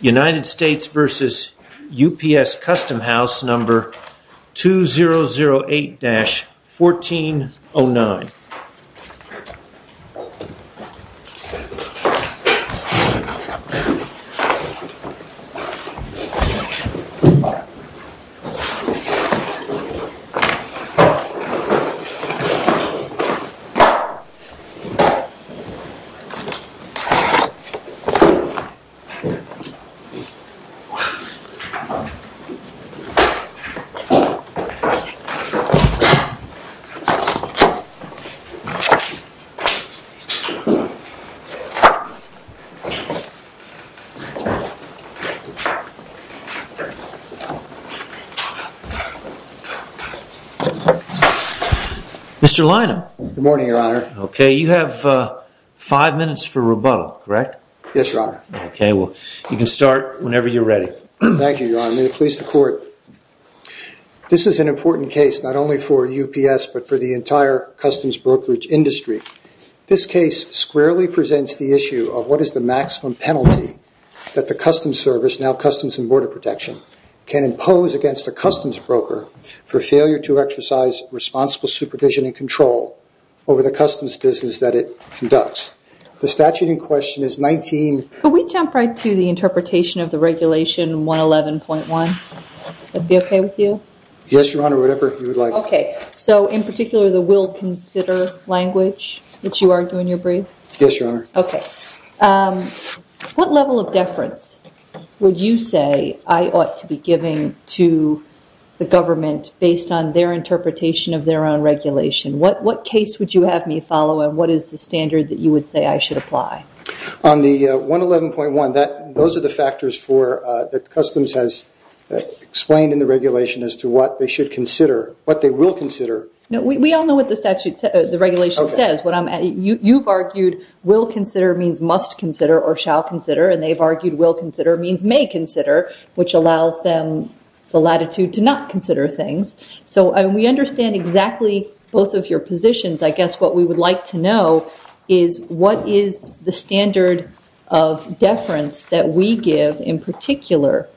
United States v. UPS Customhouse number 2008-1409 Mr. Lino. Good morning, your honor. Okay, you have five minutes for rebuttal, correct? Yes, your honor. Okay, well you can start whenever you're ready. Thank you, your honor. May it please the court. This is an important case not only for UPS but for the entire customs brokerage industry. This case squarely presents the issue of what is the maximum penalty that the customs service, now Customs and Border Protection, can impose against a customs broker for failure to exercise responsible supervision and control over the customs business that it conducts. The statute in question is 19- Could we jump right to the interpretation of the regulation 111.1? Would that be okay with you? Yes, your honor, whatever you would like. Okay, so in particular the will consider language that you argue in your brief? Yes, your honor. Okay. What level of deference would you say I ought to be giving to the government based on their interpretation of their own regulation? What case would you have me follow and what is the standard that you would say I should apply? On the 111.1, those are the factors that Customs has explained in the regulation as to what they should consider, what they will consider. We all know what the regulation says. You've argued will consider means must consider or shall consider, and they've argued will consider means may consider, which allows them the latitude to not consider things. So we understand exactly both of your positions. I guess what we would like to know is what is the standard of deference that we give in particular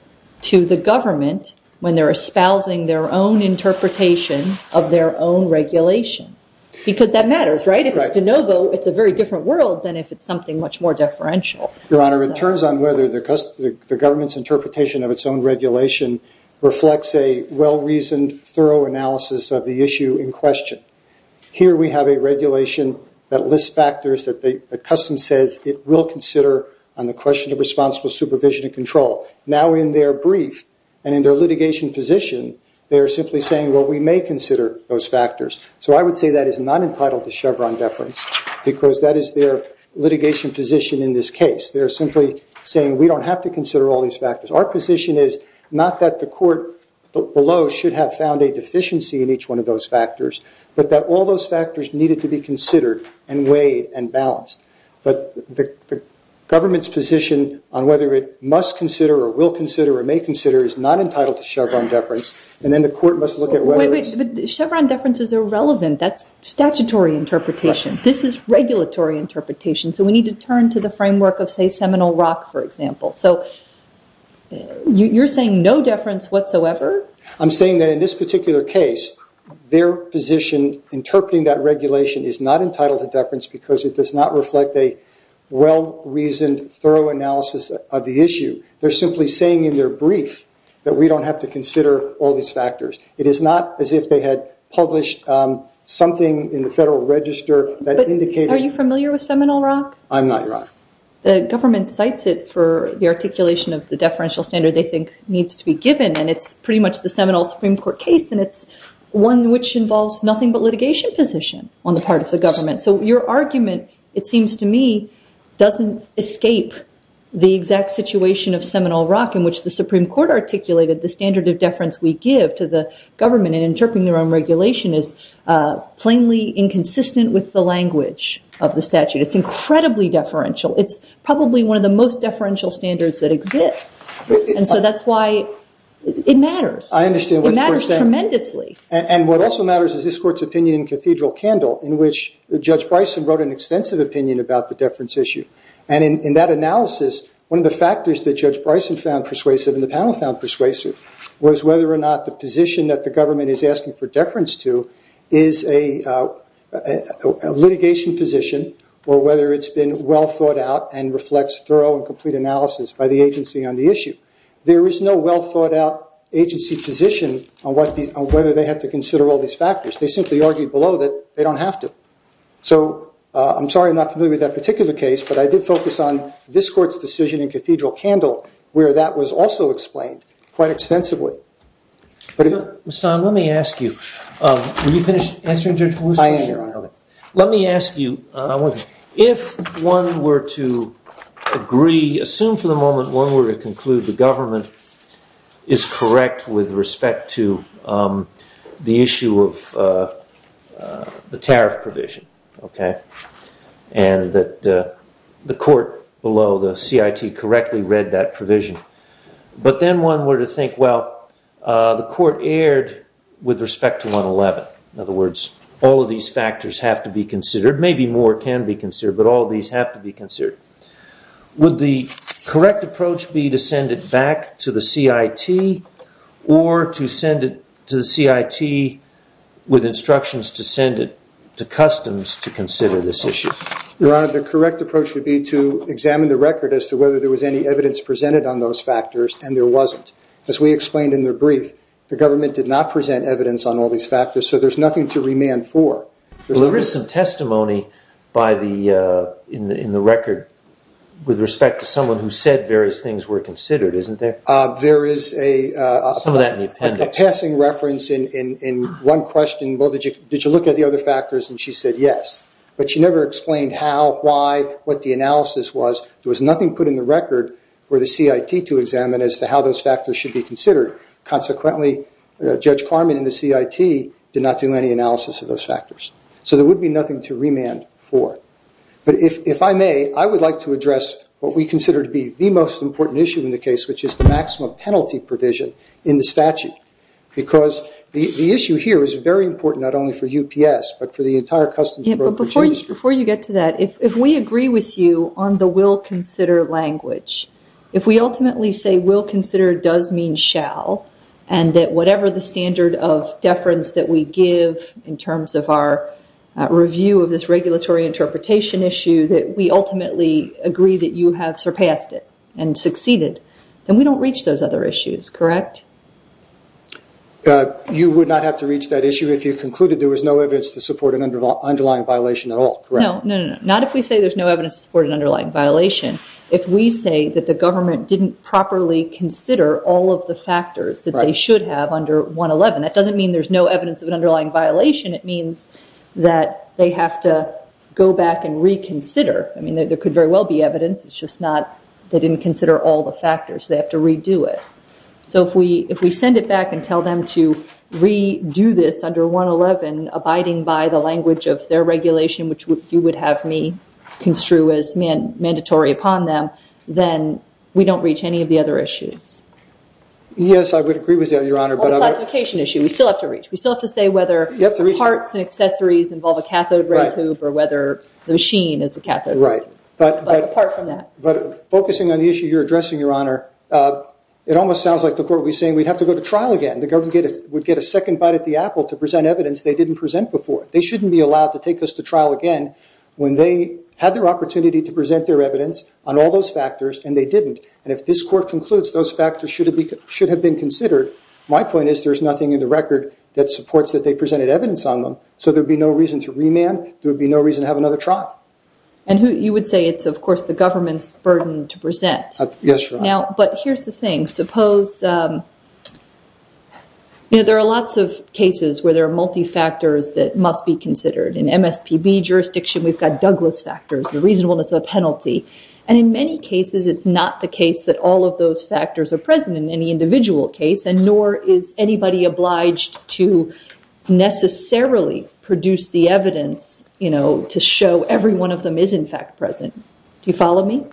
to the government when they're espousing their own interpretation of their own regulation? Because that matters, right? If it's de novo, it's a very different world than if it's something much more deferential. Your honor, it turns on whether the government's interpretation of its own regulation reflects a well-reasoned, thorough analysis of the issue in question. Here we have a regulation that lists factors that Customs says it will consider on the question of responsible supervision and control. Now in their brief and in their litigation position, they are simply saying, well, we may consider those factors. So I would say that is not entitled to Chevron deference, because that is their litigation position in this case. They're simply saying, we don't have to consider all these factors. Our position is not that the court below should have found a deficiency in each one of those factors, but that all those factors needed to be considered and weighed and balanced. But the government's position on whether it must consider or will consider or may consider is not entitled to Chevron deference, and then the court must look at whether it's... But Chevron deference is irrelevant. That's statutory interpretation. This is regulatory interpretation. So we need to turn to the framework of, say, Seminole Rock, for example. So you're saying no deference whatsoever? I'm saying that in this particular case, their position interpreting that regulation is not entitled to deference, because it does not reflect a well-reasoned, thorough analysis of the issue. They're simply saying in their brief that we don't have to consider all these factors. It is not as if they had published something in the Federal Register that indicated... But are you familiar with Seminole Rock? I'm not, Your Honor. The government cites it for the articulation of the deferential standard they think needs to be given, and it's pretty much the Seminole Supreme Court case, and it's one which involves nothing but litigation position on the part of the government. So your argument, it seems to me, doesn't escape the exact situation of Seminole Rock, in which the Supreme Court articulated the standard of deference we give to the government in interpreting their own regulation is plainly inconsistent with the language of the statute. It's incredibly deferential. It's probably one of the most deferential standards that exists. And so that's why it matters. I understand what you're saying. It matters tremendously. And what also matters is this Court's opinion in Cathedral Candle, in which Judge Bryson wrote an extensive opinion about the deference issue. And in that analysis, one of the factors that Judge Bryson found persuasive and the panel found persuasive was whether or not the position that the government is asking for deference to is a litigation position or whether it's been well thought out and reflects thorough and complete analysis by the agency on the issue. There is no well thought out agency position on whether they have to consider all these factors. They simply argue below that they don't have to. So I'm sorry I'm not familiar with that particular case, but I did focus on this Court's decision in Cathedral Candle, where that was also explained quite extensively. Mr. Stahn, let me ask you. Were you finished answering Judge Hall's question? I am, Your Honor. Let me ask you. If one were to agree, assume for the moment one were to conclude the government is correct with respect to the issue of the tariff provision, and that the Court below the CIT correctly read that provision, but then one were to think, well, the Court erred with respect to 111. In other words, all of these factors have to be considered. Maybe more can be considered, but all of these have to be considered. Would the correct approach be to send it back to the CIT or to send it to the CIT with instructions to send it to customs to consider this issue? Your Honor, the correct approach would be to examine the record as to whether there was any evidence presented on those factors, and there wasn't. As we explained in the brief, the government did not present evidence on all these factors, so there's nothing to remand for. Well, there is some testimony in the record with respect to someone who said various things were considered, isn't there? There is a passing reference in one question. Well, did you look at the other factors? And she said yes, but she never explained how, why, what the analysis was. There was nothing put in the record for the CIT to examine as to how those factors should be considered. Consequently, Judge Carman in the CIT did not do any analysis of those factors. So there would be nothing to remand for. But if I may, I would like to address what we consider to be the most important issue in the case, which is the maximum penalty provision in the statute, because the issue here is very important not only for UPS, but for the entire customs and brokerage industry. Before you get to that, if we agree with you on the will consider language, if we ultimately say will consider does mean shall, and that whatever the standard of deference that we give in terms of our review of this regulatory interpretation issue, that we ultimately agree that you have surpassed it and succeeded, then we don't reach those other issues, correct? You would not have to reach that issue if you concluded there was no evidence to support an underlying violation at all, correct? No, not if we say there's no evidence to support an underlying violation. If we say that the government didn't properly consider all of the factors that they should have under 111, that doesn't mean there's no evidence of an underlying violation. It means that they have to go back and reconsider. I mean, there could very well be evidence. It's just not they didn't consider all the factors. They have to redo it. So if we send it back and tell them to redo this under 111, abiding by the language of their regulation, which you would have me construe as mandatory upon them, then we don't reach any of the other issues. Yes, I would agree with that, Your Honor. Well, the classification issue, we still have to reach. We still have to say whether parts and accessories involve a cathode ray tube or whether the machine is a cathode ray tube. Right. But apart from that. But focusing on the issue you're addressing, Your Honor, it almost sounds like the court would be saying we'd have to go to trial again. The government would get a second bite at the apple to present evidence they didn't present before. They shouldn't be allowed to take us to trial again when they had their opportunity to present their evidence on all those factors and they didn't. And if this court concludes those factors should have been considered, my point is there's nothing in the record that supports that they presented evidence on them. So there would be no reason to remand. There would be no reason to have another trial. And you would say it's, of course, the government's burden to present. Yes, Your Honor. But here's the thing. I suppose, you know, there are lots of cases where there are multifactors that must be considered. In MSPB jurisdiction we've got Douglas factors, the reasonableness of a penalty. And in many cases it's not the case that all of those factors are present in any individual case and nor is anybody obliged to necessarily produce the evidence, you know, to show every one of them is in fact present. Do you follow me?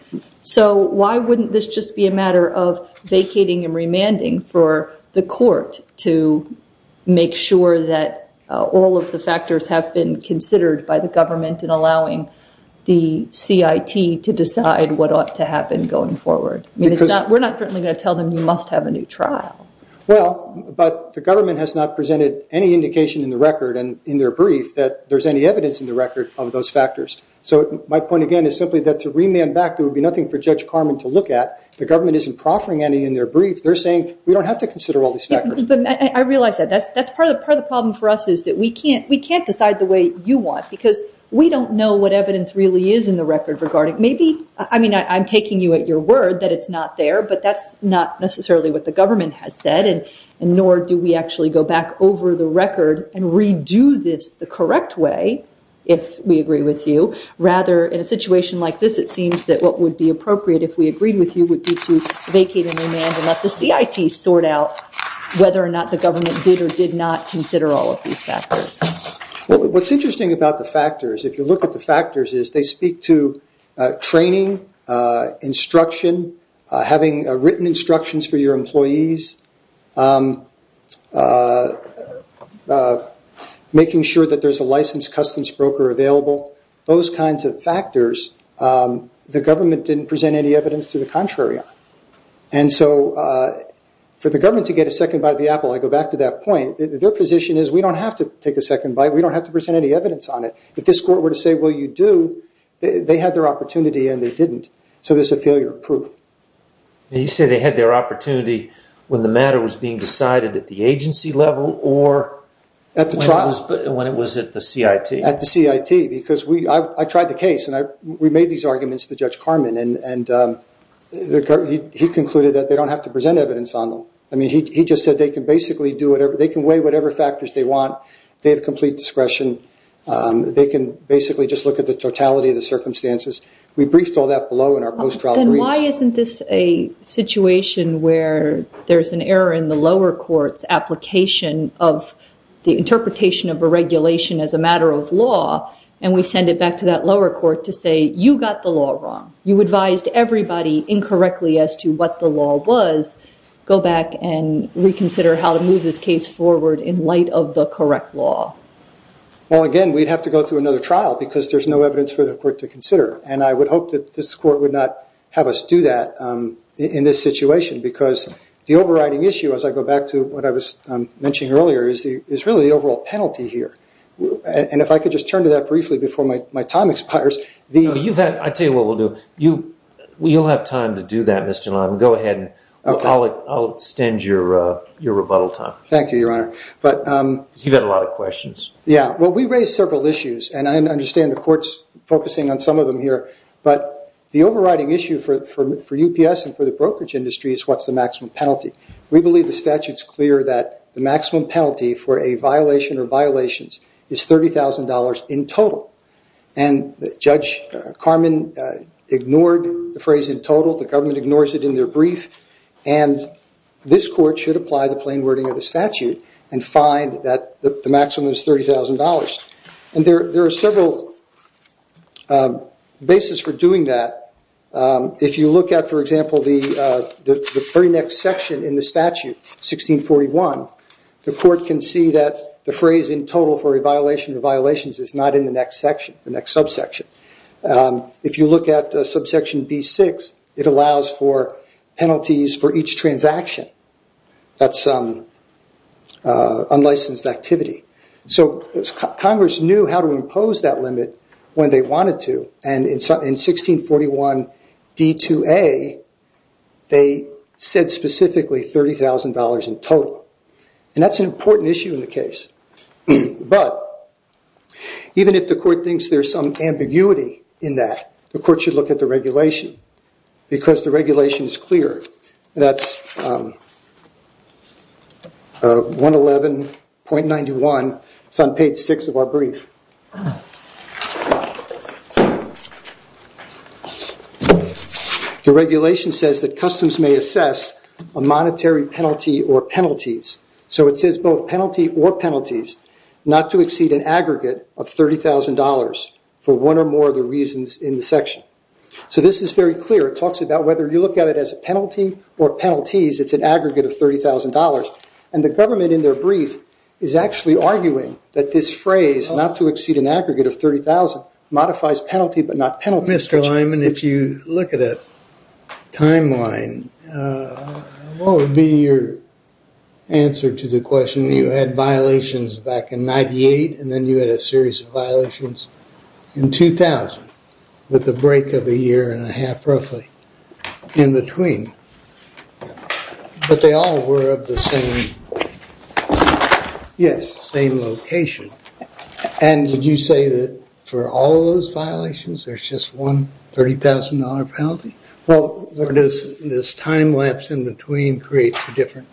So why wouldn't this just be a matter of vacating and remanding for the court to make sure that all of the factors have been considered by the government and allowing the CIT to decide what ought to happen going forward? I mean, we're not going to tell them you must have a new trial. Well, but the government has not presented any indication in the record and in their brief that there's any evidence in the record of those factors. So my point again is simply that to remand back there would be nothing for Judge Carman to look at. The government isn't proffering any in their brief. They're saying we don't have to consider all these factors. I realize that. That's part of the problem for us is that we can't decide the way you want because we don't know what evidence really is in the record regarding maybe, I mean, I'm taking you at your word that it's not there, but that's not necessarily what the government has said and nor do we actually go back over the record and redo this the correct way, if we agree with you. Rather, in a situation like this, it seems that what would be appropriate, if we agreed with you, would be to vacate and remand and let the CIT sort out whether or not the government did or did not consider all of these factors. What's interesting about the factors, if you look at the factors, is they speak to training, instruction, having written instructions for your employees, making sure that there's a licensed customs broker available, those kinds of factors the government didn't present any evidence to the contrary on. For the government to get a second bite of the apple, I go back to that point, their position is we don't have to take a second bite. We don't have to present any evidence on it. If this court were to say, well, you do, they had their opportunity and they didn't, so there's a failure of proof. You say they had their opportunity when the matter was being decided at the agency level or when it was at the CIT? At the CIT because I tried the case and we made these arguments to Judge Carman and he concluded that they don't have to present evidence on them. He just said they can weigh whatever factors they want. They have complete discretion. They can basically just look at the totality of the circumstances. We briefed all that below in our post-trial brief. Then why isn't this a situation where there's an error in the lower court's application of the interpretation of a regulation as a matter of law and we send it back to that lower court to say you got the law wrong. You advised everybody incorrectly as to what the law was. Go back and reconsider how to move this case forward in light of the correct law. Well, again, we'd have to go through another trial because there's no evidence for the court to consider. And I would hope that this court would not have us do that in this situation because the overriding issue, as I go back to what I was mentioning earlier, is really the overall penalty here. And if I could just turn to that briefly before my time expires. I'll tell you what we'll do. You'll have time to do that, Mr. Lyman. Go ahead. I'll extend your rebuttal time. Thank you, Your Honor. You've had a lot of questions. Yeah. Well, we raised several issues. And I understand the court's focusing on some of them here. But the overriding issue for UPS and for the brokerage industry is what's the maximum penalty. We believe the statute's clear that the maximum penalty for a violation or violations is $30,000 in total. And Judge Carman ignored the phrase in total. The government ignores it in their brief. And this court should apply the plain wording of the statute and find that the maximum is $30,000. And there are several bases for doing that. If you look at, for example, the very next section in the statute, 1641, the court can see that the phrase in total for a violation or violations is not in the next section, the next subsection. If you look at subsection B6, it allows for penalties for each transaction. That's unlicensed activity. So Congress knew how to impose that limit when they wanted to. And in 1641 D2A, they said specifically $30,000 in total. And that's an important issue in the case. But even if the court thinks there's some ambiguity in that, the court should look at the regulation because the regulation is clear. That's 111.91. It's on page 6 of our brief. The regulation says that customs may assess a monetary penalty or penalties. So it says both penalty or penalties not to exceed an aggregate of $30,000 for one or more of the reasons in the section. So this is very clear. It talks about whether you look at it as a penalty or penalties. It's an aggregate of $30,000. And the government in their brief is actually arguing that this phrase, not to exceed an aggregate of $30,000, modifies penalty but not penalties. Mr. Lyman, if you look at a timeline, what would be your answer to the question when you had violations back in 98 and then you had a series of violations in 2000 with a break of a year and a half, roughly, in between. But they all were of the same location. And would you say that for all those violations, there's just one $30,000 penalty? Or does this time lapse in between create different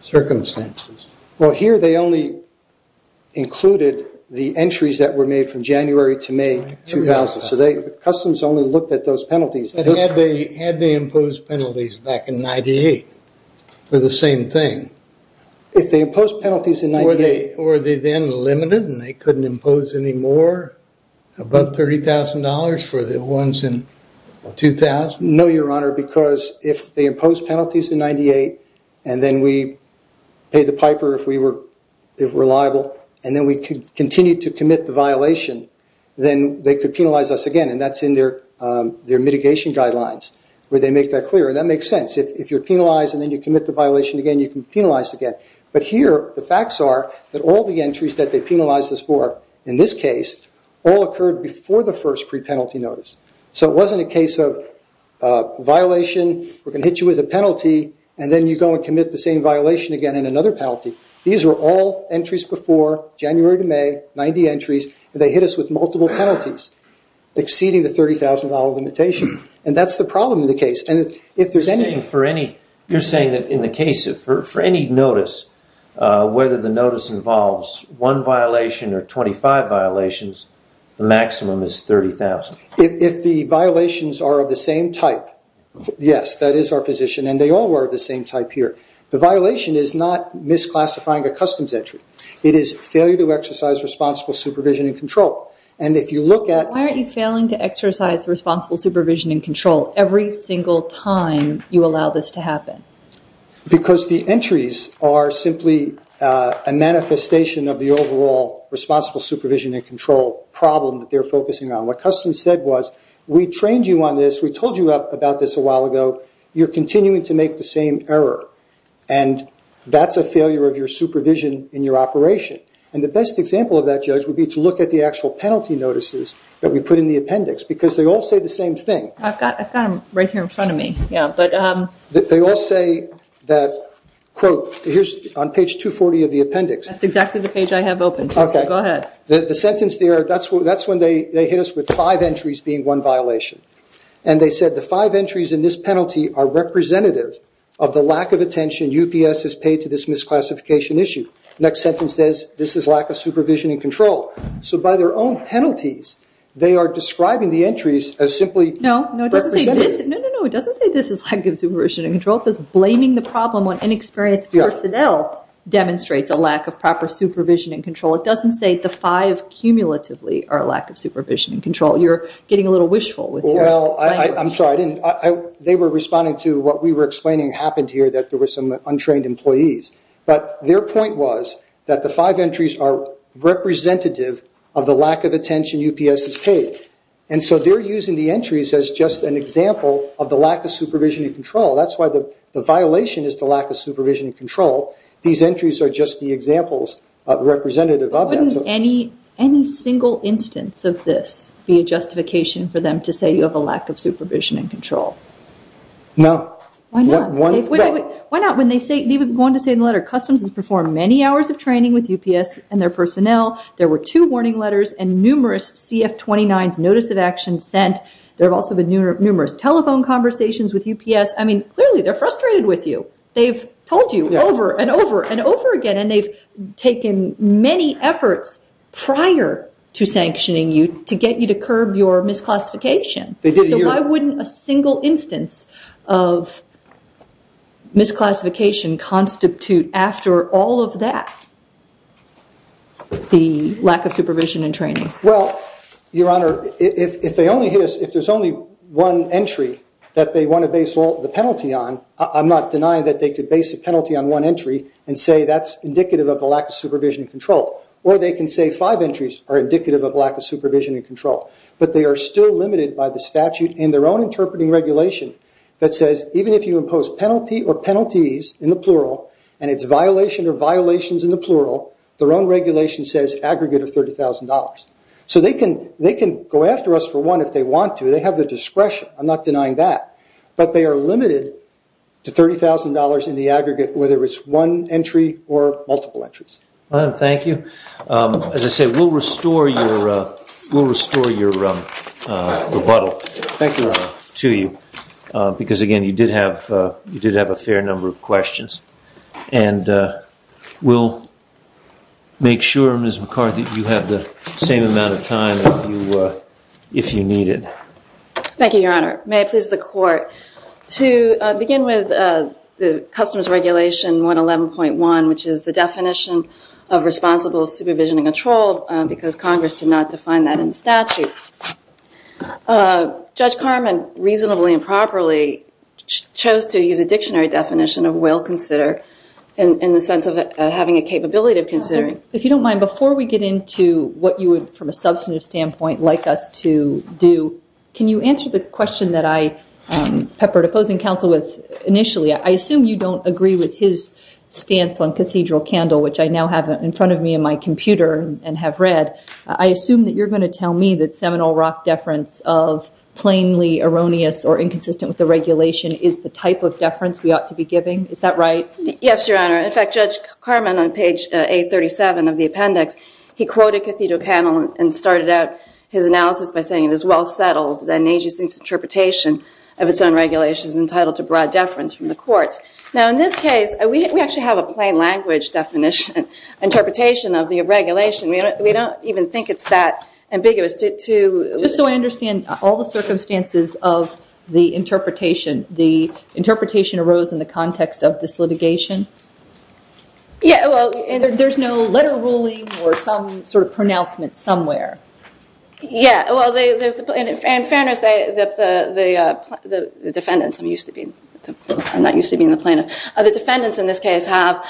circumstances? Well, here they only included the entries that were made from January to May 2000. So customs only looked at those penalties. Had they imposed penalties back in 98 for the same thing? If they imposed penalties in 98... Or were they then limited and they couldn't impose any more above $30,000 for the ones in 2000? No, Your Honor, because if they imposed penalties in 98 and then we paid the piper if we were reliable, and then we continued to commit the violation, then they could penalize us again. And that's in their mitigation guidelines where they make that clear. And that makes sense. If you're penalized and then you commit the violation again, you can be penalized again. But here the facts are that all the entries that they penalized us for in this case all occurred before the first pre-penalty notice. So it wasn't a case of violation, we're going to hit you with a penalty, and then you go and commit the same violation again and another penalty. These were all entries before January to May, 90 entries, and they hit us with multiple penalties exceeding the $30,000 limitation. And that's the problem in the case. And if there's any... You're saying that in the case for any notice, whether the notice involves one violation or 25 violations, the maximum is $30,000. If the violations are of the same type, yes, that is our position. And they all were of the same type here. The violation is not misclassifying a customs entry. It is failure to exercise responsible supervision and control. And if you look at... Why aren't you failing to exercise responsible supervision and control every single time you allow this to happen? Because the entries are simply a manifestation of the overall responsible supervision and control problem that they're focusing on. What customs said was, we trained you on this, we told you about this a while ago, you're continuing to make the same error, and that's a failure of your supervision in your operation. And the best example of that, Judge, would be to look at the actual penalty notices that we put in the appendix, because they all say the same thing. I've got them right here in front of me. They all say that, quote, here's on page 240 of the appendix. That's exactly the page I have open, too, so go ahead. The sentence there, that's when they hit us with five entries being one violation. And they said the five entries in this penalty are representative of the lack of attention UPS has paid to this misclassification issue. Next sentence says, this is lack of supervision and control. So by their own penalties, they are describing the entries as simply representative. No, no, it doesn't say this is lack of supervision and control. It says, blaming the problem on inexperienced personnel demonstrates a lack of proper supervision and control. It doesn't say the five cumulatively are a lack of supervision and control. You're getting a little wishful. Well, I'm sorry. They were responding to what we were explaining happened here, that there were some untrained employees. But their point was that the five entries are representative of the lack of attention UPS has paid. And so they're using the entries as just an example of the lack of supervision and control. That's why the violation is the lack of supervision and control. These entries are just the examples representative of that. Wouldn't any single instance of this be a justification for them to say you have a lack of supervision and control? No. Why not? Why not? When they say, they were going to say in the letter, customs has performed many hours of training with UPS and their personnel. There were two warning letters and numerous CF-29's notice of action sent. There have also been numerous telephone conversations with UPS. I mean, clearly they're frustrated with you. They've told you over and over and over again. And they've taken many efforts prior to sanctioning you to get you to curb your misclassification. So why wouldn't a single instance of misclassification constitute after all of that the lack of supervision and training? Well, Your Honor, if there's only one entry that they want to base the penalty on, I'm not denying that they could base a penalty on one entry and say that's indicative of the lack of supervision and control. Or they can say five entries are indicative of lack of supervision and control. But they are still limited by the statute in their own interpreting regulation that says, even if you impose penalty or penalties in the plural and it's violation or violations in the plural, their own regulation says aggregate of $30,000. So they can go after us for one if they want to. They have the discretion. I'm not denying that. But they are limited to $30,000 in the aggregate, whether it's one entry or multiple entries. Thank you. As I said, we'll restore your rebuttal to you. Because, again, you did have a fair number of questions. And we'll make sure, Ms. McCarthy, you have the same amount of time if you need it. Thank you, Your Honor. May it please the Court, to begin with the Customs Regulation 111.1, which is the definition of responsible supervision and control, because Congress did not define that in the statute. Judge Karman, reasonably and properly, chose to use a dictionary definition of will consider in the sense of having a capability of considering. If you don't mind, before we get into what you would, from a substantive standpoint, like us to do, can you answer the question that I peppered opposing counsel with initially? I assume you don't agree with his stance on cathedral candle, which I now have in front of me in my computer and have read. I assume that you're going to tell me that seminal rock deference of plainly erroneous or inconsistent with the regulation is the type of deference we ought to be giving. Is that right? Yes, Your Honor. In fact, Judge Karman, on page 837 of the appendix, he quoted cathedral candle and started out his analysis by saying, it is well settled that an agency's interpretation of its own regulation is entitled to broad deference from the courts. Now, in this case, we actually have a plain language definition, interpretation of the regulation. We don't even think it's that ambiguous to Just so I understand, all the circumstances of the interpretation, the interpretation arose in the context of this litigation? Yeah, well, there's no letter ruling or some sort of pronouncement somewhere. Yeah, well, and in fairness, the defendants, I'm not used to being the plaintiff, the defendants in this case have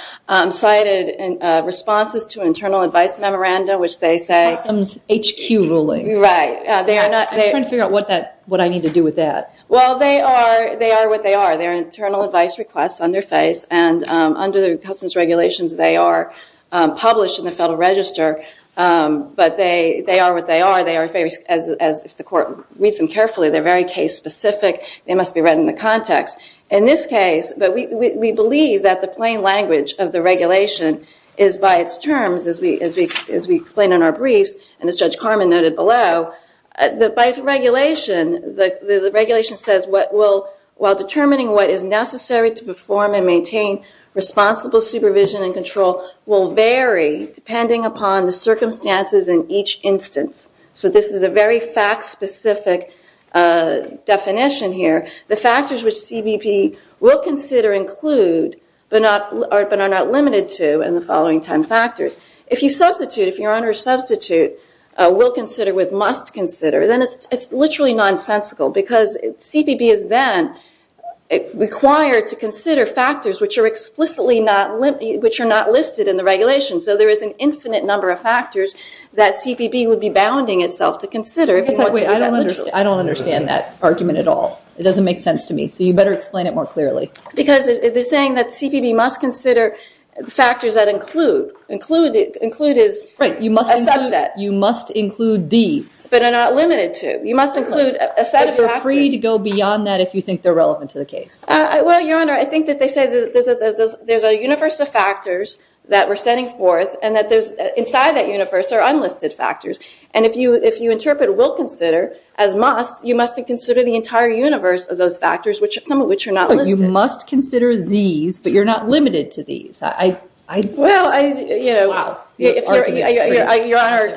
cited responses to internal advice memoranda, which they say Customs HQ ruling. Right. I'm trying to figure out what I need to do with that. Well, they are what they are. They are internal advice requests on their face. And under the customs regulations, they are published in the Federal Register. But they are what they are. They are, if the court reads them carefully, they're very case specific. They must be read in the context. In this case, we believe that the plain language of the regulation is by its terms, as we explain in our briefs, and as Judge Karman noted below, by its regulation, the regulation says, while determining what is necessary to perform and maintain responsible supervision and control will vary depending upon the circumstances in each instance. So this is a very fact specific definition here. The factors which CBP will consider include, but are not limited to in the following ten factors. If you substitute, if you're under substitute, will consider with must consider, then it's literally nonsensical. Because CBP is then required to consider factors which are explicitly not, which are not listed in the regulation. So there is an infinite number of factors that CBP would be bounding itself to consider. Wait, I don't understand that argument at all. It doesn't make sense to me. So you better explain it more clearly. Because they're saying that CBP must consider factors that include. Include is a subset. You must include these. But are not limited to. You must include a set of factors. But you're free to go beyond that if you think they're relevant to the case. Well, Your Honor, I think that they say there's a universe of factors that we're setting forth, and that inside that universe are unlisted factors. And if you interpret will consider as must, you must consider the entire universe of those factors, some of which are not listed. You must consider these, but you're not limited to these. Well, Your Honor,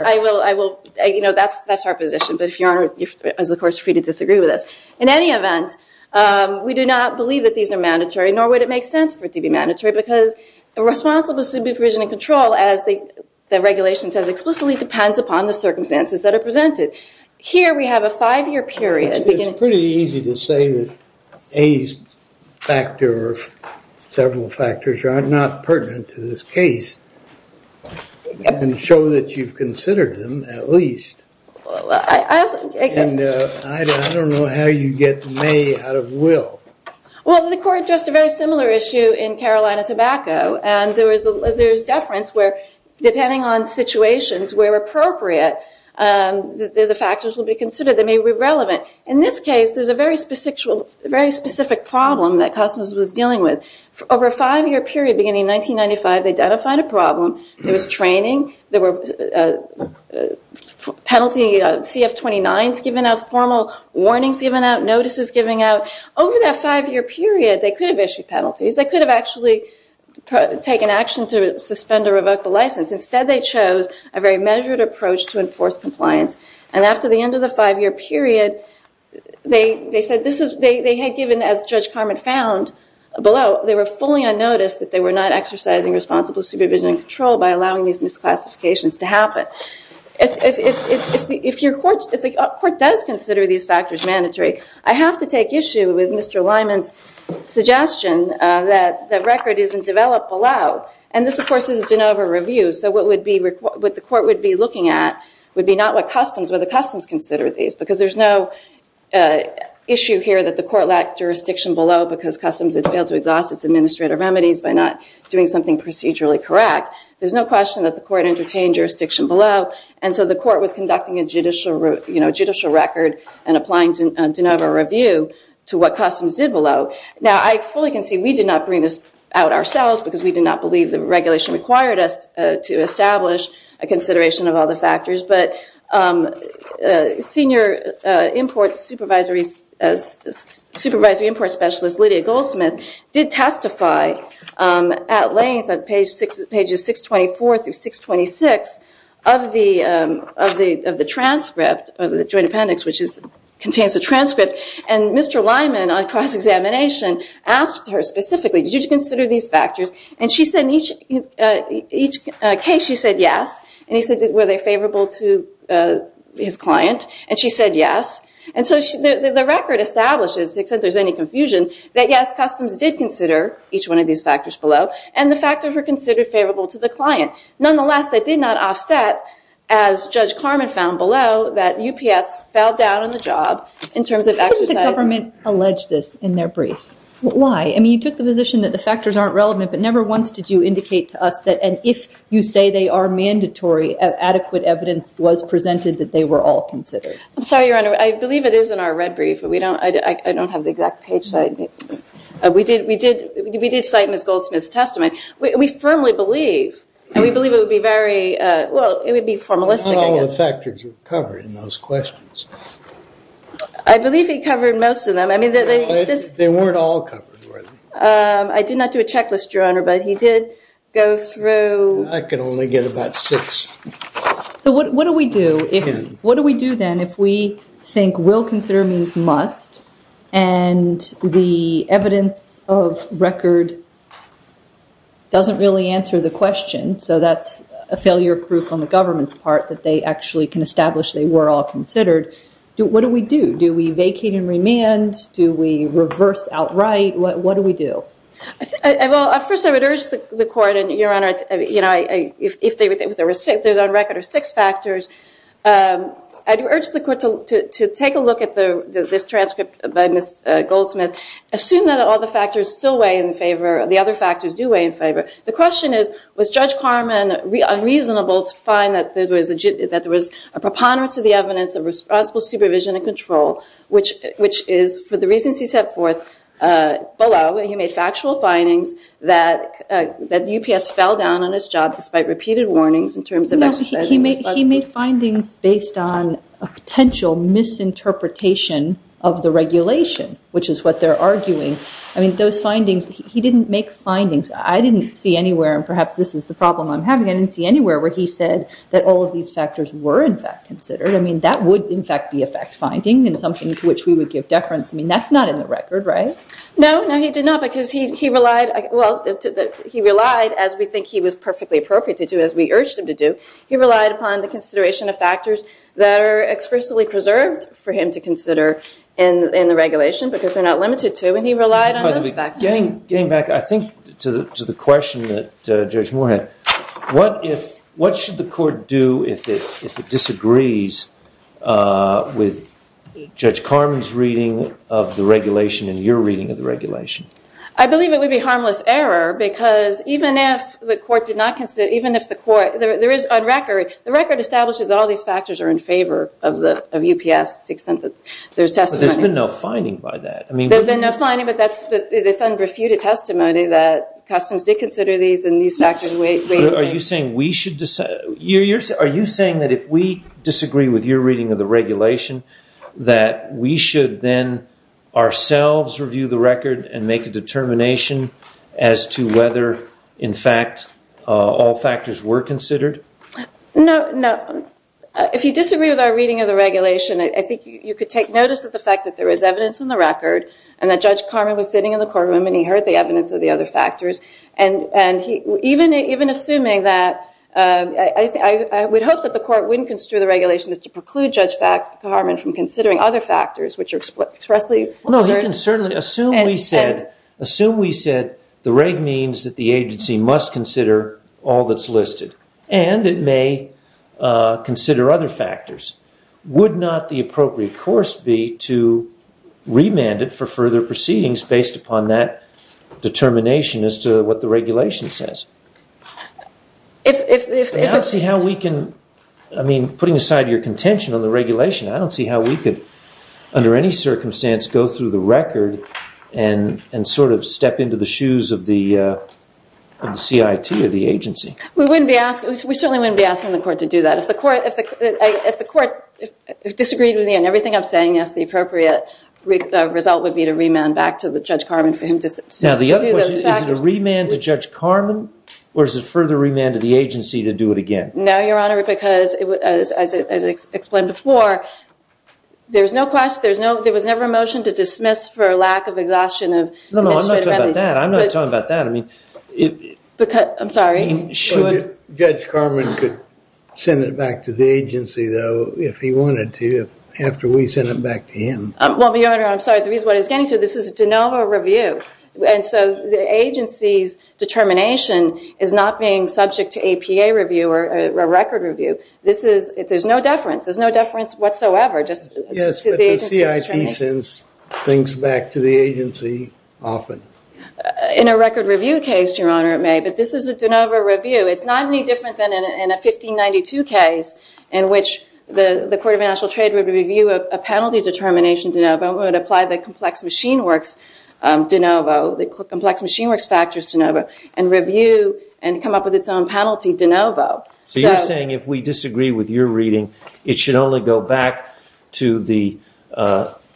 I will. You know, that's our position. But if Your Honor is, of course, free to disagree with us. In any event, we do not believe that these are mandatory, nor would it make sense for it to be mandatory. Because the responsibility of CBP provision and control, as the regulation says explicitly, depends upon the circumstances that are presented. Here we have a five-year period. It's pretty easy to say that a factor or several factors are not pertinent to this case and show that you've considered them at least. And I don't know how you get may out of will. Well, the court addressed a very similar issue in Carolina Tobacco. And there's deference where, depending on situations where appropriate, the factors will be considered that may be relevant. In this case, there's a very specific problem that Cosmos was dealing with. Over a five-year period beginning in 1995, they identified a problem. There was training. There were penalty CF-29s given out, formal warnings given out, notices given out. Over that five-year period, they could have issued penalties. Instead, they chose a very measured approach to enforce compliance. And after the end of the five-year period, they had given, as Judge Carman found below, they were fully unnoticed that they were not exercising responsible supervision and control by allowing these misclassifications to happen. If the court does consider these factors mandatory, I have to take issue with Mr. Lyman's suggestion that the record isn't developed below. And this, of course, is a De Novo review. So what the court would be looking at would be not what customs, whether customs considered these. Because there's no issue here that the court lacked jurisdiction below because Customs had failed to exhaust its administrative remedies by not doing something procedurally correct. There's no question that the court entertained jurisdiction below. And so the court was conducting a judicial record and applying a De Novo review to what Customs did below. Now, I fully concede we did not bring this out ourselves because we did not believe the regulation required us to establish a consideration of all the factors. But Senior Supervisory Imports Specialist Lydia Goldsmith did testify at length on pages 624 through 626 of the transcript of the Joint Appendix, which contains the transcript. And Mr. Lyman, on cross-examination, asked her specifically, did you consider these factors? And she said in each case, she said yes. And he said, were they favorable to his client? And she said yes. And so the record establishes, except there's any confusion, that yes, Customs did consider each one of these factors below. And the factors were considered favorable to the client. Nonetheless, that did not offset, as Judge Carman found below, that UPS fell down on the job in terms of exercising- Why didn't the government allege this in their brief? Why? I mean, you took the position that the factors aren't relevant, but never once did you indicate to us that, and if you say they are mandatory, adequate evidence was presented that they were all considered. I'm sorry, Your Honor. I believe it is in our red brief. I don't have the exact page size. We did cite Ms. Goldsmith's testimony. We firmly believe, and we believe it would be very- Well, it would be formalistic, I guess. But not all the factors are covered in those questions. I believe he covered most of them. They weren't all covered, were they? I did not do a checklist, Your Honor, but he did go through- I can only get about six. So what do we do? What do we do then if we think will consider means must, and the evidence of record doesn't really answer the question, so that's a failure proof on the government's part that they actually can establish they were all considered. What do we do? Do we vacate and remand? Do we reverse outright? What do we do? First, I would urge the Court, and Your Honor, if there's on record six factors, I'd urge the Court to take a look at this transcript by Ms. Goldsmith. Assume that all the factors still weigh in favor, the other factors do weigh in favor. The question is, was Judge Carman reasonable to find that there was a preponderance of the evidence of responsible supervision and control, which is, for the reasons he set forth below, he made factual findings that UPS fell down on its job despite repeated warnings in terms of exercising- No, he made findings based on a potential misinterpretation of the regulation, which is what they're arguing. I mean, those findings, he didn't make findings. I didn't see anywhere, and perhaps this is the problem I'm having, I didn't see anywhere where he said that all of these factors were, in fact, considered. I mean, that would, in fact, be a fact-finding and something to which we would give deference. I mean, that's not in the record, right? No, no, he did not, because he relied, well, he relied, as we think he was perfectly appropriate to do, as we urged him to do, he relied upon the consideration of factors that are expressively preserved for him to consider in the regulation because they're not limited to, and he relied on those factors. Getting back, I think, to the question that Judge Moore had, what should the court do if it disagrees with Judge Carman's reading of the regulation and your reading of the regulation? I believe it would be harmless error because even if the court did not consider, even if the court, there is on record, the record establishes all these factors are in favor of UPS to the extent that there's testimony- But there's been no finding by that. There's been no finding, but it's under refuted testimony that customs did consider these and these factors- Are you saying that if we disagree with your reading of the regulation that we should then ourselves review the record and make a determination as to whether, in fact, all factors were considered? No, no. If you disagree with our reading of the regulation, I think you could take notice of the fact that there is evidence in the record and that Judge Carman was sitting in the courtroom and he heard the evidence of the other factors. And even assuming that, I would hope that the court wouldn't construe the regulation as to preclude Judge Carman from considering other factors, which are expressly- No, he can certainly assume we said the rate means that the agency must consider all that's listed and it may consider other factors. Would not the appropriate course be to remand it for further proceedings based upon that determination as to what the regulation says? If- I don't see how we can- I mean, putting aside your contention on the regulation, I don't see how we could, under any circumstance, go through the record and sort of step into the shoes of the CIT or the agency. We certainly wouldn't be asking the court to do that. If the court disagreed with me on everything I'm saying, yes, the appropriate result would be to remand back to Judge Carman for him to- Now, the other question is, is it a remand to Judge Carman or is it further remand to the agency to do it again? No, Your Honor, because, as explained before, there was never a motion to dismiss for lack of exhaustion of administrative remedies. No, no, I'm not talking about that. I'm not talking about that. I'm sorry. Judge Carman could send it back to the agency, though, if he wanted to, after we sent it back to him. Well, Your Honor, I'm sorry. The reason why he's getting to it, this is a de novo review, and so the agency's determination is not being subject to APA review or record review. There's no deference. There's no deference whatsoever. Yes, but the CIT sends things back to the agency often. In a record review case, Your Honor, it may, but this is a de novo review. It's not any different than in a 1592 case, in which the Court of International Trade would review a penalty determination de novo and would apply the complex machine works de novo, the complex machine works factors de novo, and review and come up with its own penalty de novo. So you're saying if we disagree with your reading, it should only go back to the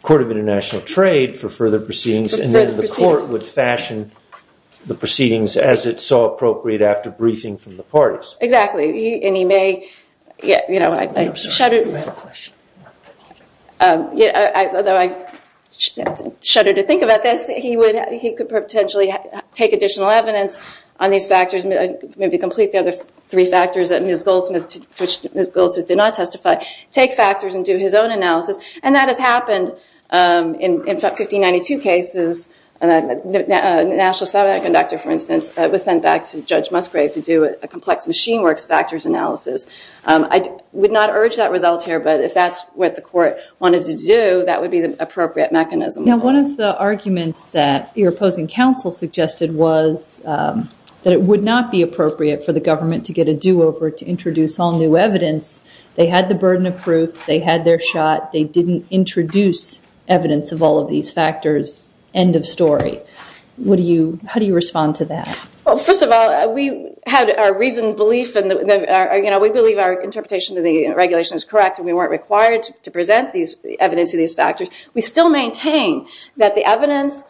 Court of International Trade for further proceedings and then the court would fashion the proceedings as it saw appropriate after briefing from the parties. Exactly, and he may, you know, although I shudder to think about this, he could potentially take additional evidence on these factors, maybe complete the other three factors that Ms. Goldsmith, which Ms. Goldsmith did not testify, take factors and do his own analysis, and that has happened in 1592 cases. A national satellite conductor, for instance, was sent back to Judge Musgrave to do a complex machine works factors analysis. I would not urge that result here, but if that's what the court wanted to do, that would be the appropriate mechanism. Now, one of the arguments that your opposing counsel suggested was that it would not be appropriate for the government to get a do-over to introduce all new evidence. They had the burden of proof. They had their shot. They didn't introduce evidence of all of these factors. End of story. How do you respond to that? Well, first of all, we had our reasoned belief and, you know, we believe our interpretation of the regulation is correct and we weren't required to present the evidence of these factors. We still maintain that the evidence,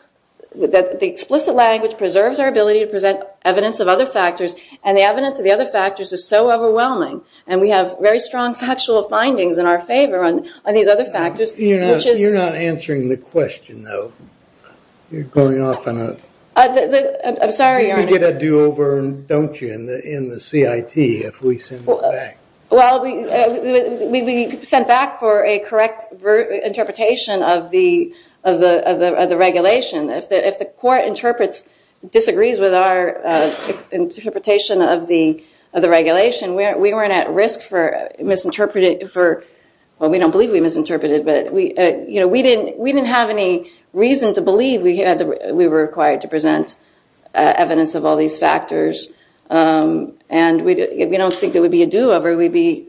that the explicit language preserves our ability to present evidence of other factors and the evidence of the other factors is so overwhelming and we have very strong factual findings in our favor on these other factors. You're not answering the question, though. You're going off on a... I'm sorry, Your Honor. You get a do-over, don't you, in the CIT if we send it back. Well, we sent back for a correct interpretation of the regulation. If the court interprets, disagrees with our interpretation of the regulation, we weren't at risk for misinterpreting for... Well, we don't believe we misinterpreted, but, you know, we didn't have any reason to believe we were required to present evidence of all these factors and we don't think there would be a do-over. We'd be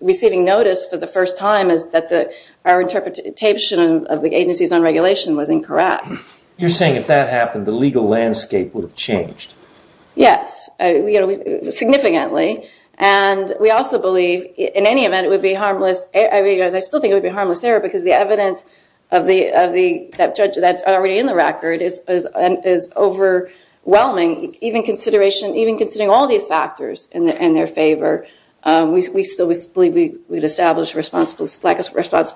receiving notice for the first time that our interpretation of the agencies on regulation was incorrect. You're saying if that happened, the legal landscape would have changed. Yes, significantly. And we also believe, in any event, it would be harmless. I still think it would be a harmless error because the evidence that's already in the record is overwhelming. Even considering all these factors in their favor, we still believe we'd establish responsible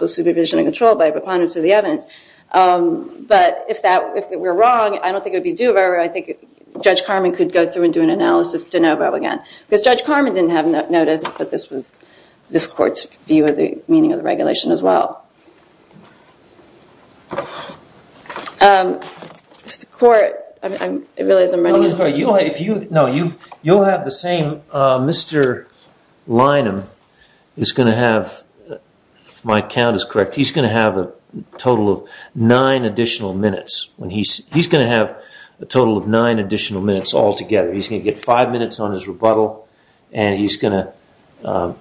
supervision and control by preponderance of the evidence. But if we're wrong, I don't think it would be a do-over. I think Judge Carman could go through and do an analysis de novo again. Because Judge Carman didn't have notice, but this was this court's view of the meaning of the regulation as well. If the court... No, you'll have the same... Mr. Lynham is going to have... My count is correct. He's going to have a total of nine additional minutes. He's going to have a total of nine additional minutes altogether. He's going to get five minutes on his rebuttal, and he's going to...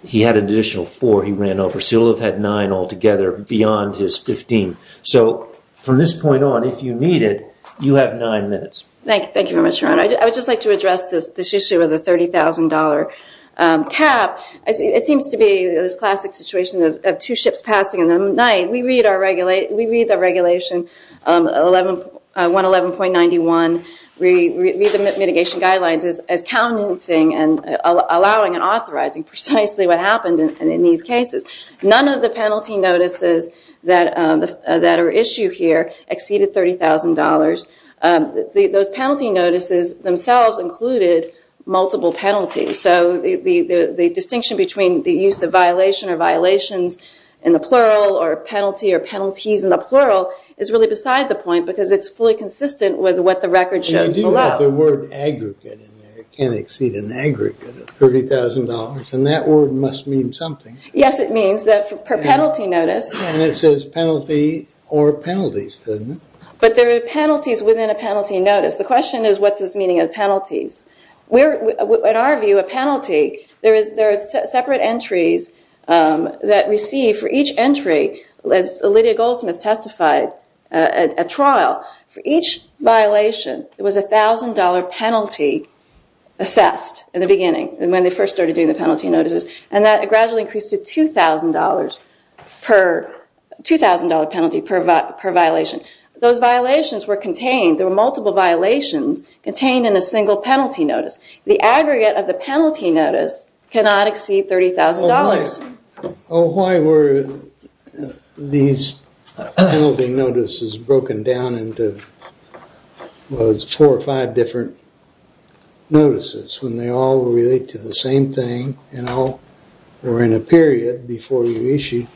He had an additional four he ran over, so he'll have had nine altogether beyond his 15. So from this point on, if you need it, you have nine minutes. Thank you very much, Your Honor. I would just like to address this issue of the $30,000 cap. It seems to be this classic situation of two ships passing, and at night, we read the Regulation 111.91, read the mitigation guidelines as counting and allowing and authorizing precisely what happened in these cases. None of the penalty notices that are issued here exceeded $30,000. Those penalty notices themselves included multiple penalties. So the distinction between the use of violation or violations in the plural or penalty or penalties in the plural is really beside the point because it's fully consistent with what the record shows below. You do have the word aggregate in there. It can't exceed an aggregate of $30,000, and that word must mean something. Yes, it means that per penalty notice... And it says penalty or penalties, doesn't it? But there are penalties within a penalty notice. The question is, what does meaning of penalties? In our view, a penalty, there are separate entries that receive for each entry, as Lydia Goldsmith testified, a trial. For each violation, there was a $1,000 penalty assessed in the beginning when they first started doing the penalty notices, and that gradually increased to $2,000 penalty per violation. Those violations were contained, there were multiple violations contained in a single penalty notice. The aggregate of the penalty notice cannot exceed $30,000. Why were these penalty notices broken down into four or five different notices when they all relate to the same thing and all were in a period before you issued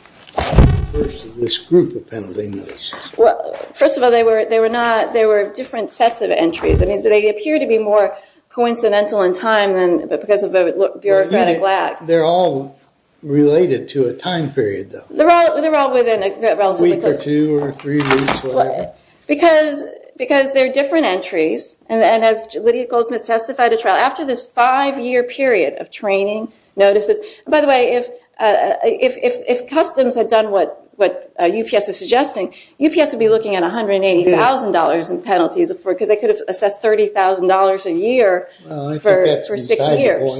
this group of penalty notices? First of all, they were different sets of entries. They appear to be more coincidental in time because of a bureaucratic lack. They're all related to a time period, though. They're all within a relatively close... A week or two or three weeks, whatever. Because they're different entries, and as Lydia Goldsmith testified, after this five-year period of training notices... By the way, if customs had done what UPS is suggesting, UPS would be looking at $180,000 in penalties because they could have assessed $30,000 a year for six years.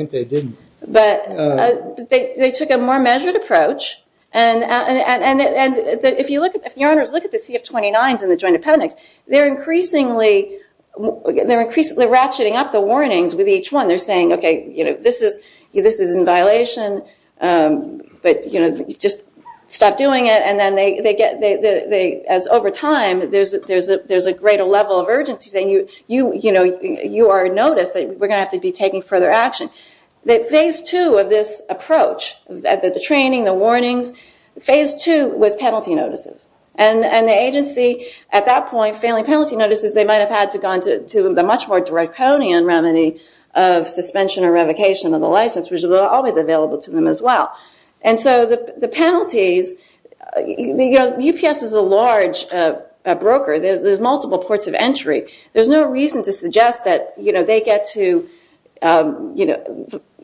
They took a more measured approach. If you look at the CF-29s in the Joint Appendix, they're increasingly ratcheting up the warnings with each one. They're saying, okay, this is in violation, but just stop doing it. Over time, there's a greater level of urgency saying, you are noticed, we're going to have to be taking further action. Phase two of this approach, the training, the warnings, phase two was penalty notices. The agency, at that point, failing penalty notices, they might have had to have gone to a much more draconian remedy of suspension or revocation of the license, which was always available to them as well. The penalties... UPS is a large broker. There's multiple ports of entry. There's no reason to suggest that they get to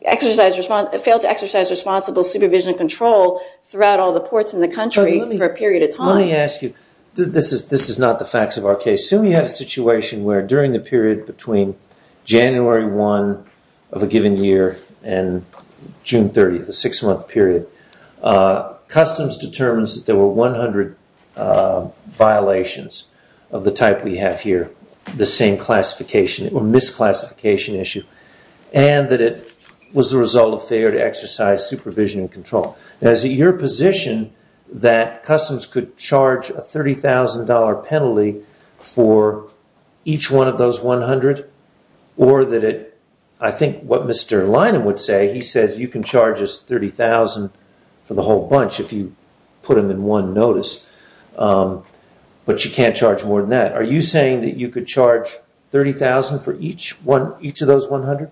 exercise... fail to exercise responsible supervision and control throughout all the ports in the country for a period of time. Let me ask you. This is not the facts of our case. Assume you have a situation where during the period between January 1 of a given year and June 30, the six-month period, Customs determines that there were 100 violations of the type we have here, the same classification or misclassification issue, and that it was the result of failure to exercise supervision and control. Is it your position that Customs could charge a $30,000 penalty for each one of those 100? Or that it... I think what Mr Lyman would say, he says you can charge us $30,000 for the whole bunch if you put them in one notice, but you can't charge more than that. Are you saying that you could charge $30,000 for each of those 100?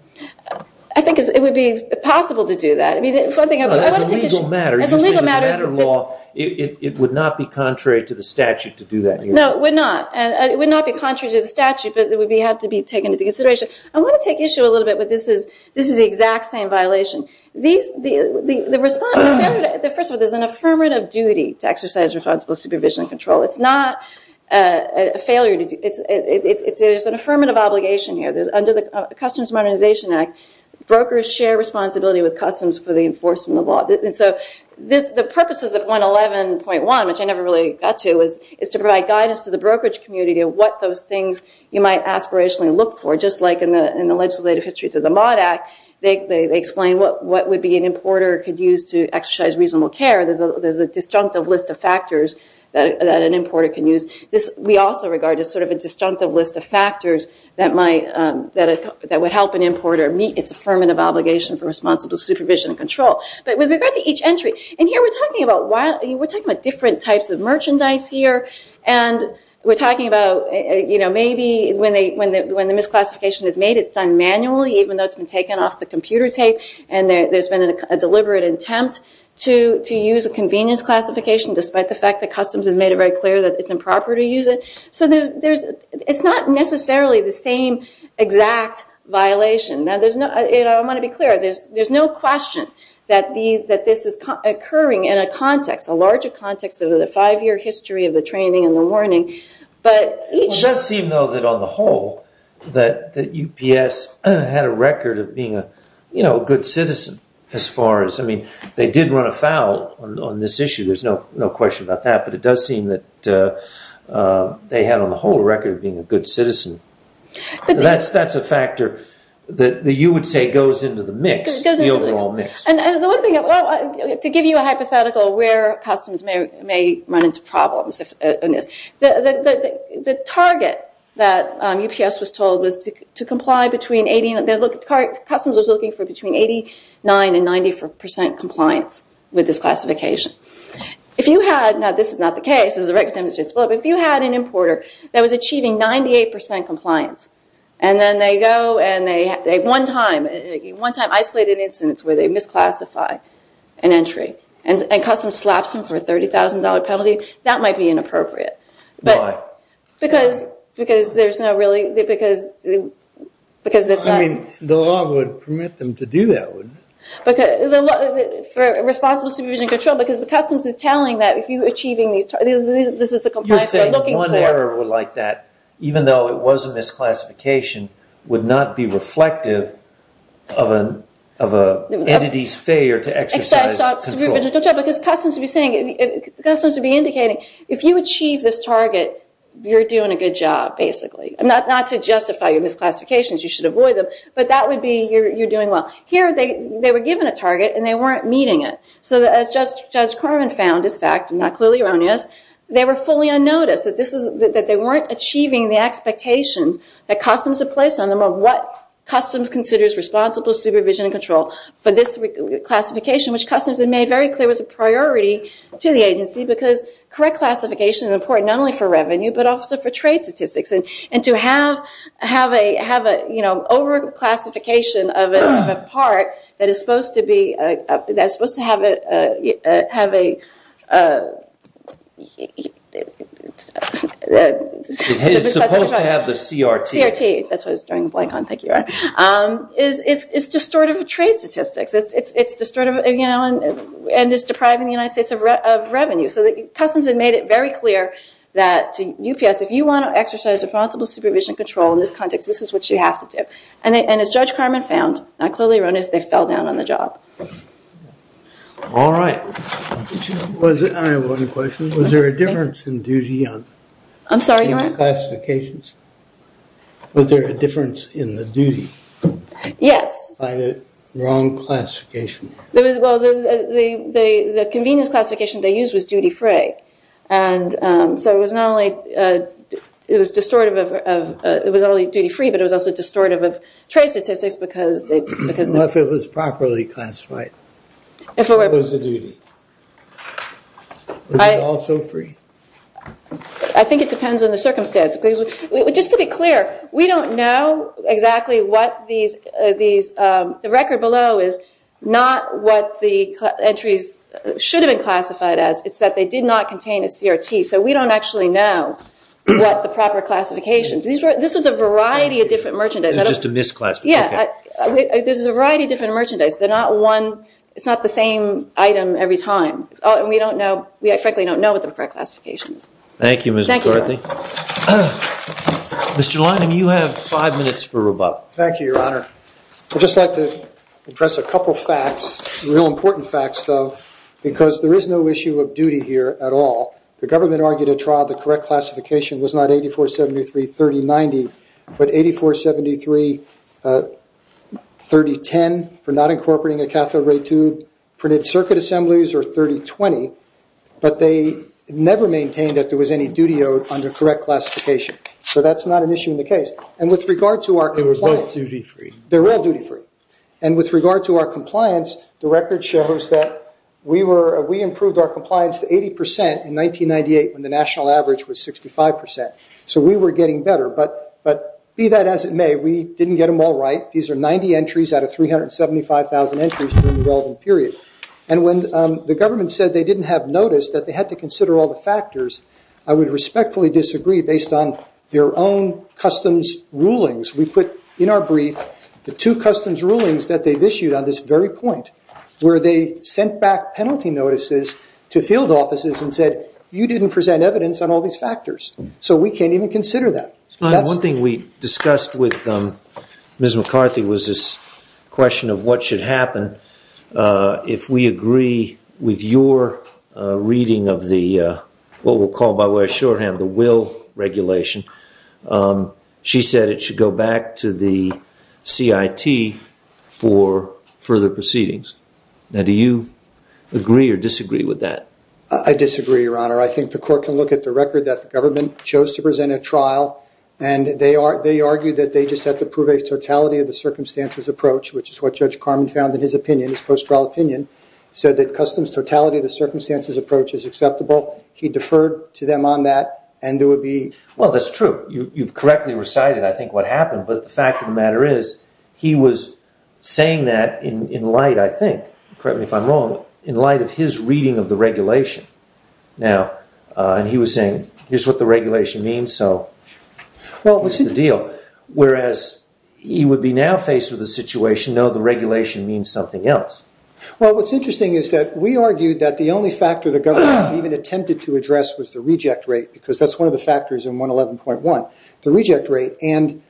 I think it would be possible to do that. As a legal matter, you're saying as a matter of law, it would not be contrary to the statute to do that here. No, it would not. It would not be contrary to the statute, but it would have to be taken into consideration. I want to take issue a little bit with this. This is the exact same violation. First of all, there's an affirmative duty to exercise responsible supervision and control. It's not a failure. There's an affirmative obligation here. Under the Customs Modernization Act, brokers share responsibility with Customs for the enforcement of law. The purpose of the 111.1, which I never really got to, is to provide guidance to the brokerage community of what those things you might aspirationally look for. Just like in the legislative history to the Mott Act, they explain what an importer could use to exercise reasonable care. There's a disjunctive list of factors that an importer can use. We also regard it as a disjunctive list of factors that would help an importer meet its affirmative obligation for responsible supervision and control. But with regard to each entry, we're talking about different types of merchandise here. We're talking about maybe when the misclassification is made, it's done manually even though it's been taken off the computer tape. There's been a deliberate attempt to use a convenience classification despite the fact that Customs has made it very clear that it's improper to use it. It's not necessarily the same exact violation. I want to be clear. There's no question that this is occurring in a context, a larger context of the five-year history of the training and the warning. It does seem, though, that on the whole, that UPS had a record of being a good citizen as far as... They did run afoul on this issue. There's no question about that. But it does seem that they had on the whole a record of being a good citizen. That's a factor that you would say goes into the mix, the overall mix. To give you a hypothetical where Customs may run into problems on this, the target that UPS was told was to comply between... Customs was looking for between 89% and 94% compliance with this classification. If you had... Now, this is not the case. If you had an importer that was achieving 98% compliance, and then they go and one time isolate an instance where they misclassify an entry, and Customs slaps them for a $30,000 penalty, that might be inappropriate. Why? Because there's no really... The law would permit them to do that, wouldn't it? For responsible supervision and control, because the Customs is telling that if you're achieving these targets, this is the compliance they're looking for. You're saying one order like that, even though it was a misclassification, would not be reflective of an entity's failure to exercise control. Because Customs would be saying, Customs would be indicating, if you achieve this target, you're doing a good job, basically. Not to justify your misclassifications, you should avoid them, but that would be you're doing well. Here, they were given a target, and they weren't meeting it. As Judge Carmen found, it's a fact, I'm not clearly erroneous, they were fully unnoticed. They weren't achieving the expectations that Customs had placed on them of what Customs considers responsible supervision and control for this reclassification, which Customs had made very clear was a priority to the agency, because correct classification is important not only for revenue, but also for trade statistics. To have an over-classification of a part that is supposed to have a... It's supposed to have the CRT. CRT, that's what I was drawing a blank on, thank you. It's just sort of trade statistics. It's just depriving the United States of revenue. Customs had made it very clear that UPS, if you want to exercise responsible supervision and control in this context, this is what you have to do. As Judge Carmen found, I'm clearly erroneous, they fell down on the job. All right. I have one question. Was there a difference in duty on... I'm sorry, go ahead. Was there a difference in the duty? Yes. By the wrong classification. The convenience classification they used was duty-free. So it was not only... It was distortive of... It was not only duty-free, but it was also distortive of trade statistics, because... If it was properly classified. What was the duty? Was it also free? I think it depends on the circumstance. Just to be clear, we don't know exactly what these... The record below is not what the entries should have been classified as. It's that they did not contain a CRT. So we don't actually know what the proper classification... This was a variety of different merchandise. This is just a misclassification. Yeah. This is a variety of different merchandise. They're not one... It's not the same item every time. And we don't know... We frankly don't know what the correct classification is. Thank you, Ms. McCarthy. Thank you. Mr. Lyndon, you have five minutes for rebuttal. Thank you, Your Honor. I'd just like to address a couple of facts, real important facts, though, because there is no issue of duty here at all. The government argued at trial the correct classification was not 8473-3090, but 8473-3010 for not incorporating a cathode ray tube, printed circuit assemblies, or 3020, but they never maintained that there was any duty owed under correct classification. So that's not an issue in the case. And with regard to our compliance... They were both duty free. They're all duty free. And with regard to our compliance, the record shows that we improved our compliance to 80% in 1998 when the national average was 65%. So we were getting better. But be that as it may, we didn't get them all right. These are 90 entries out of 375,000 entries during the relevant period. And when the government said they didn't have notice, that they had to consider all the factors, I would respectfully disagree based on their own customs rulings. We put in our brief the two customs rulings that they've issued on this very point where they sent back penalty notices to field offices and said, you didn't present evidence on all these factors. So we can't even consider that. One thing we discussed with Ms. McCarthy was this question of what should happen if we agree with your reading of the, what we'll call by way of shorthand, the will regulation. She said it should go back to the CIT for further proceedings. Now, do you agree or disagree with that? I disagree, Your Honor. I think the court can look at the record that the government chose to present at trial and they argued that they just had to prove a totality of the circumstances approach, which is what Judge Carman found in his opinion, his post-trial opinion, said that customs totality of the circumstances approach is acceptable. He deferred to them on that and there would be Well, that's true. You've correctly recited, I think, what happened, but the fact of the matter is he was saying that in light, I think, correct me if I'm wrong, in light of his reading of the regulation. Now, he was saying, here's what the regulation means, so here's the deal. Whereas he would be now faced with a situation, no, the regulation means something else. Well, what's interesting is that we argued that the only factor the government even attempted to address was the reject rate because that's one of the factors in 111.1, the reject rate. And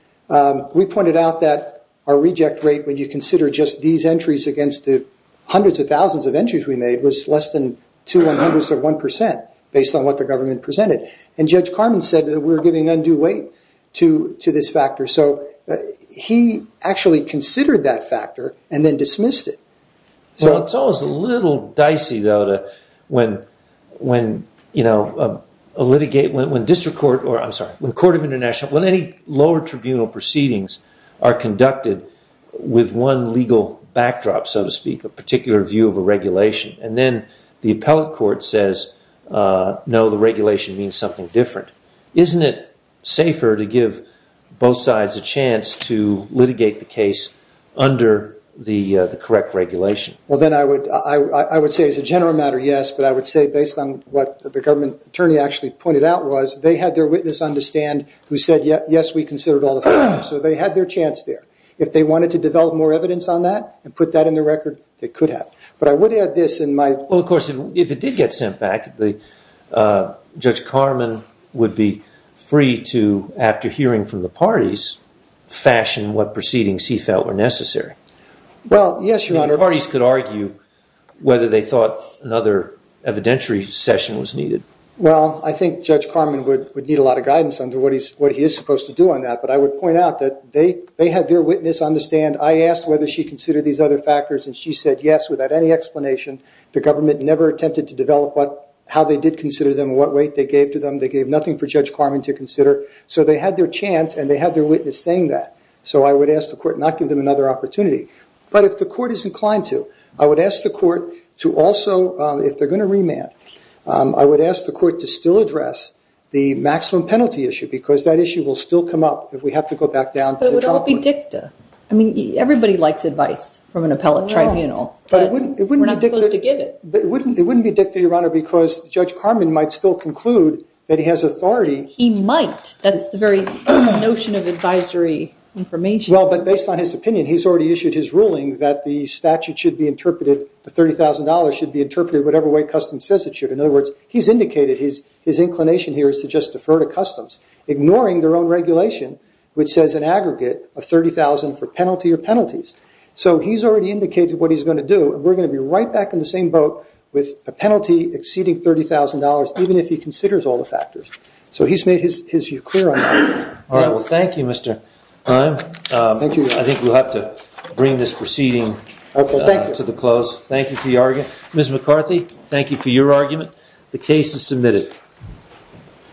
we pointed out that our reject rate, when you consider just these entries against the hundreds of thousands of entries we made, was less than two-one-hundredths of one percent based on what the government presented. And Judge Carman said that we were giving undue weight to this factor. So he actually considered that factor and then dismissed it. Well, it's always a little dicey, though, when, you know, a litigate, when district court or, I'm sorry, when court of international, when any lower tribunal proceedings are conducted with one legal backdrop, so to speak, a particular view of a regulation, and then the appellate court says, no, the regulation means something different. Isn't it safer to give both sides a chance to litigate the case under the correct regulation? Well, then I would say as a general matter, yes, but I would say based on what the government attorney actually pointed out was they had their witness understand who said, yes, we considered all the factors. So they had their chance there. If they wanted to develop more evidence on that and put that in the record, they could have. But I would add this in my... Well, of course, if it did get sent back, Judge Carman would be free to, after hearing from the parties, fashion what proceedings he felt were necessary. Well, yes, Your Honor. The parties could argue whether they thought another evidentiary session was needed. Well, I think Judge Carman would need a lot of guidance on what he is supposed to do on that, but I would point out that they had their witness understand, I asked whether she considered these other factors and she said, yes, without any explanation. The government never attempted to develop how they did consider them, what weight they gave to them. They gave nothing for Judge Carman to consider. So they had their chance and they had their witness saying that. So I would ask the Court not to give them another opportunity. But if the Court is inclined to, I would ask the Court to also, if they're going to remand, I would ask the Court to still address the maximum penalty issue because that issue will still come up if we have to go back down to the top. But it would all be dicta. I mean, everybody likes advice from an appellate tribunal. But we're not supposed to give it. But it wouldn't be dicta, Your Honor, because Judge Carman might still conclude that he has authority. He might. That's the very notion of advisory information. Well, but based on his opinion, he's already issued his ruling that the statute should be interpreted, the $30,000 should be interpreted whatever way customs says it should. In other words, he's indicated his inclination here is to just defer to customs, ignoring their own regulation, which says an aggregate of $30,000 for penalty or penalties. So he's already indicated what he's going to do. We're going to be right back in the same boat with a penalty exceeding $30,000, even if he considers all the factors. So he's made his view clear on that. All right. Well, thank you, Mr. Klein. Thank you. I think we'll have to bring this proceeding to the close. Thank you for your argument. Ms. McCarthy, thank you for your argument. The case is submitted.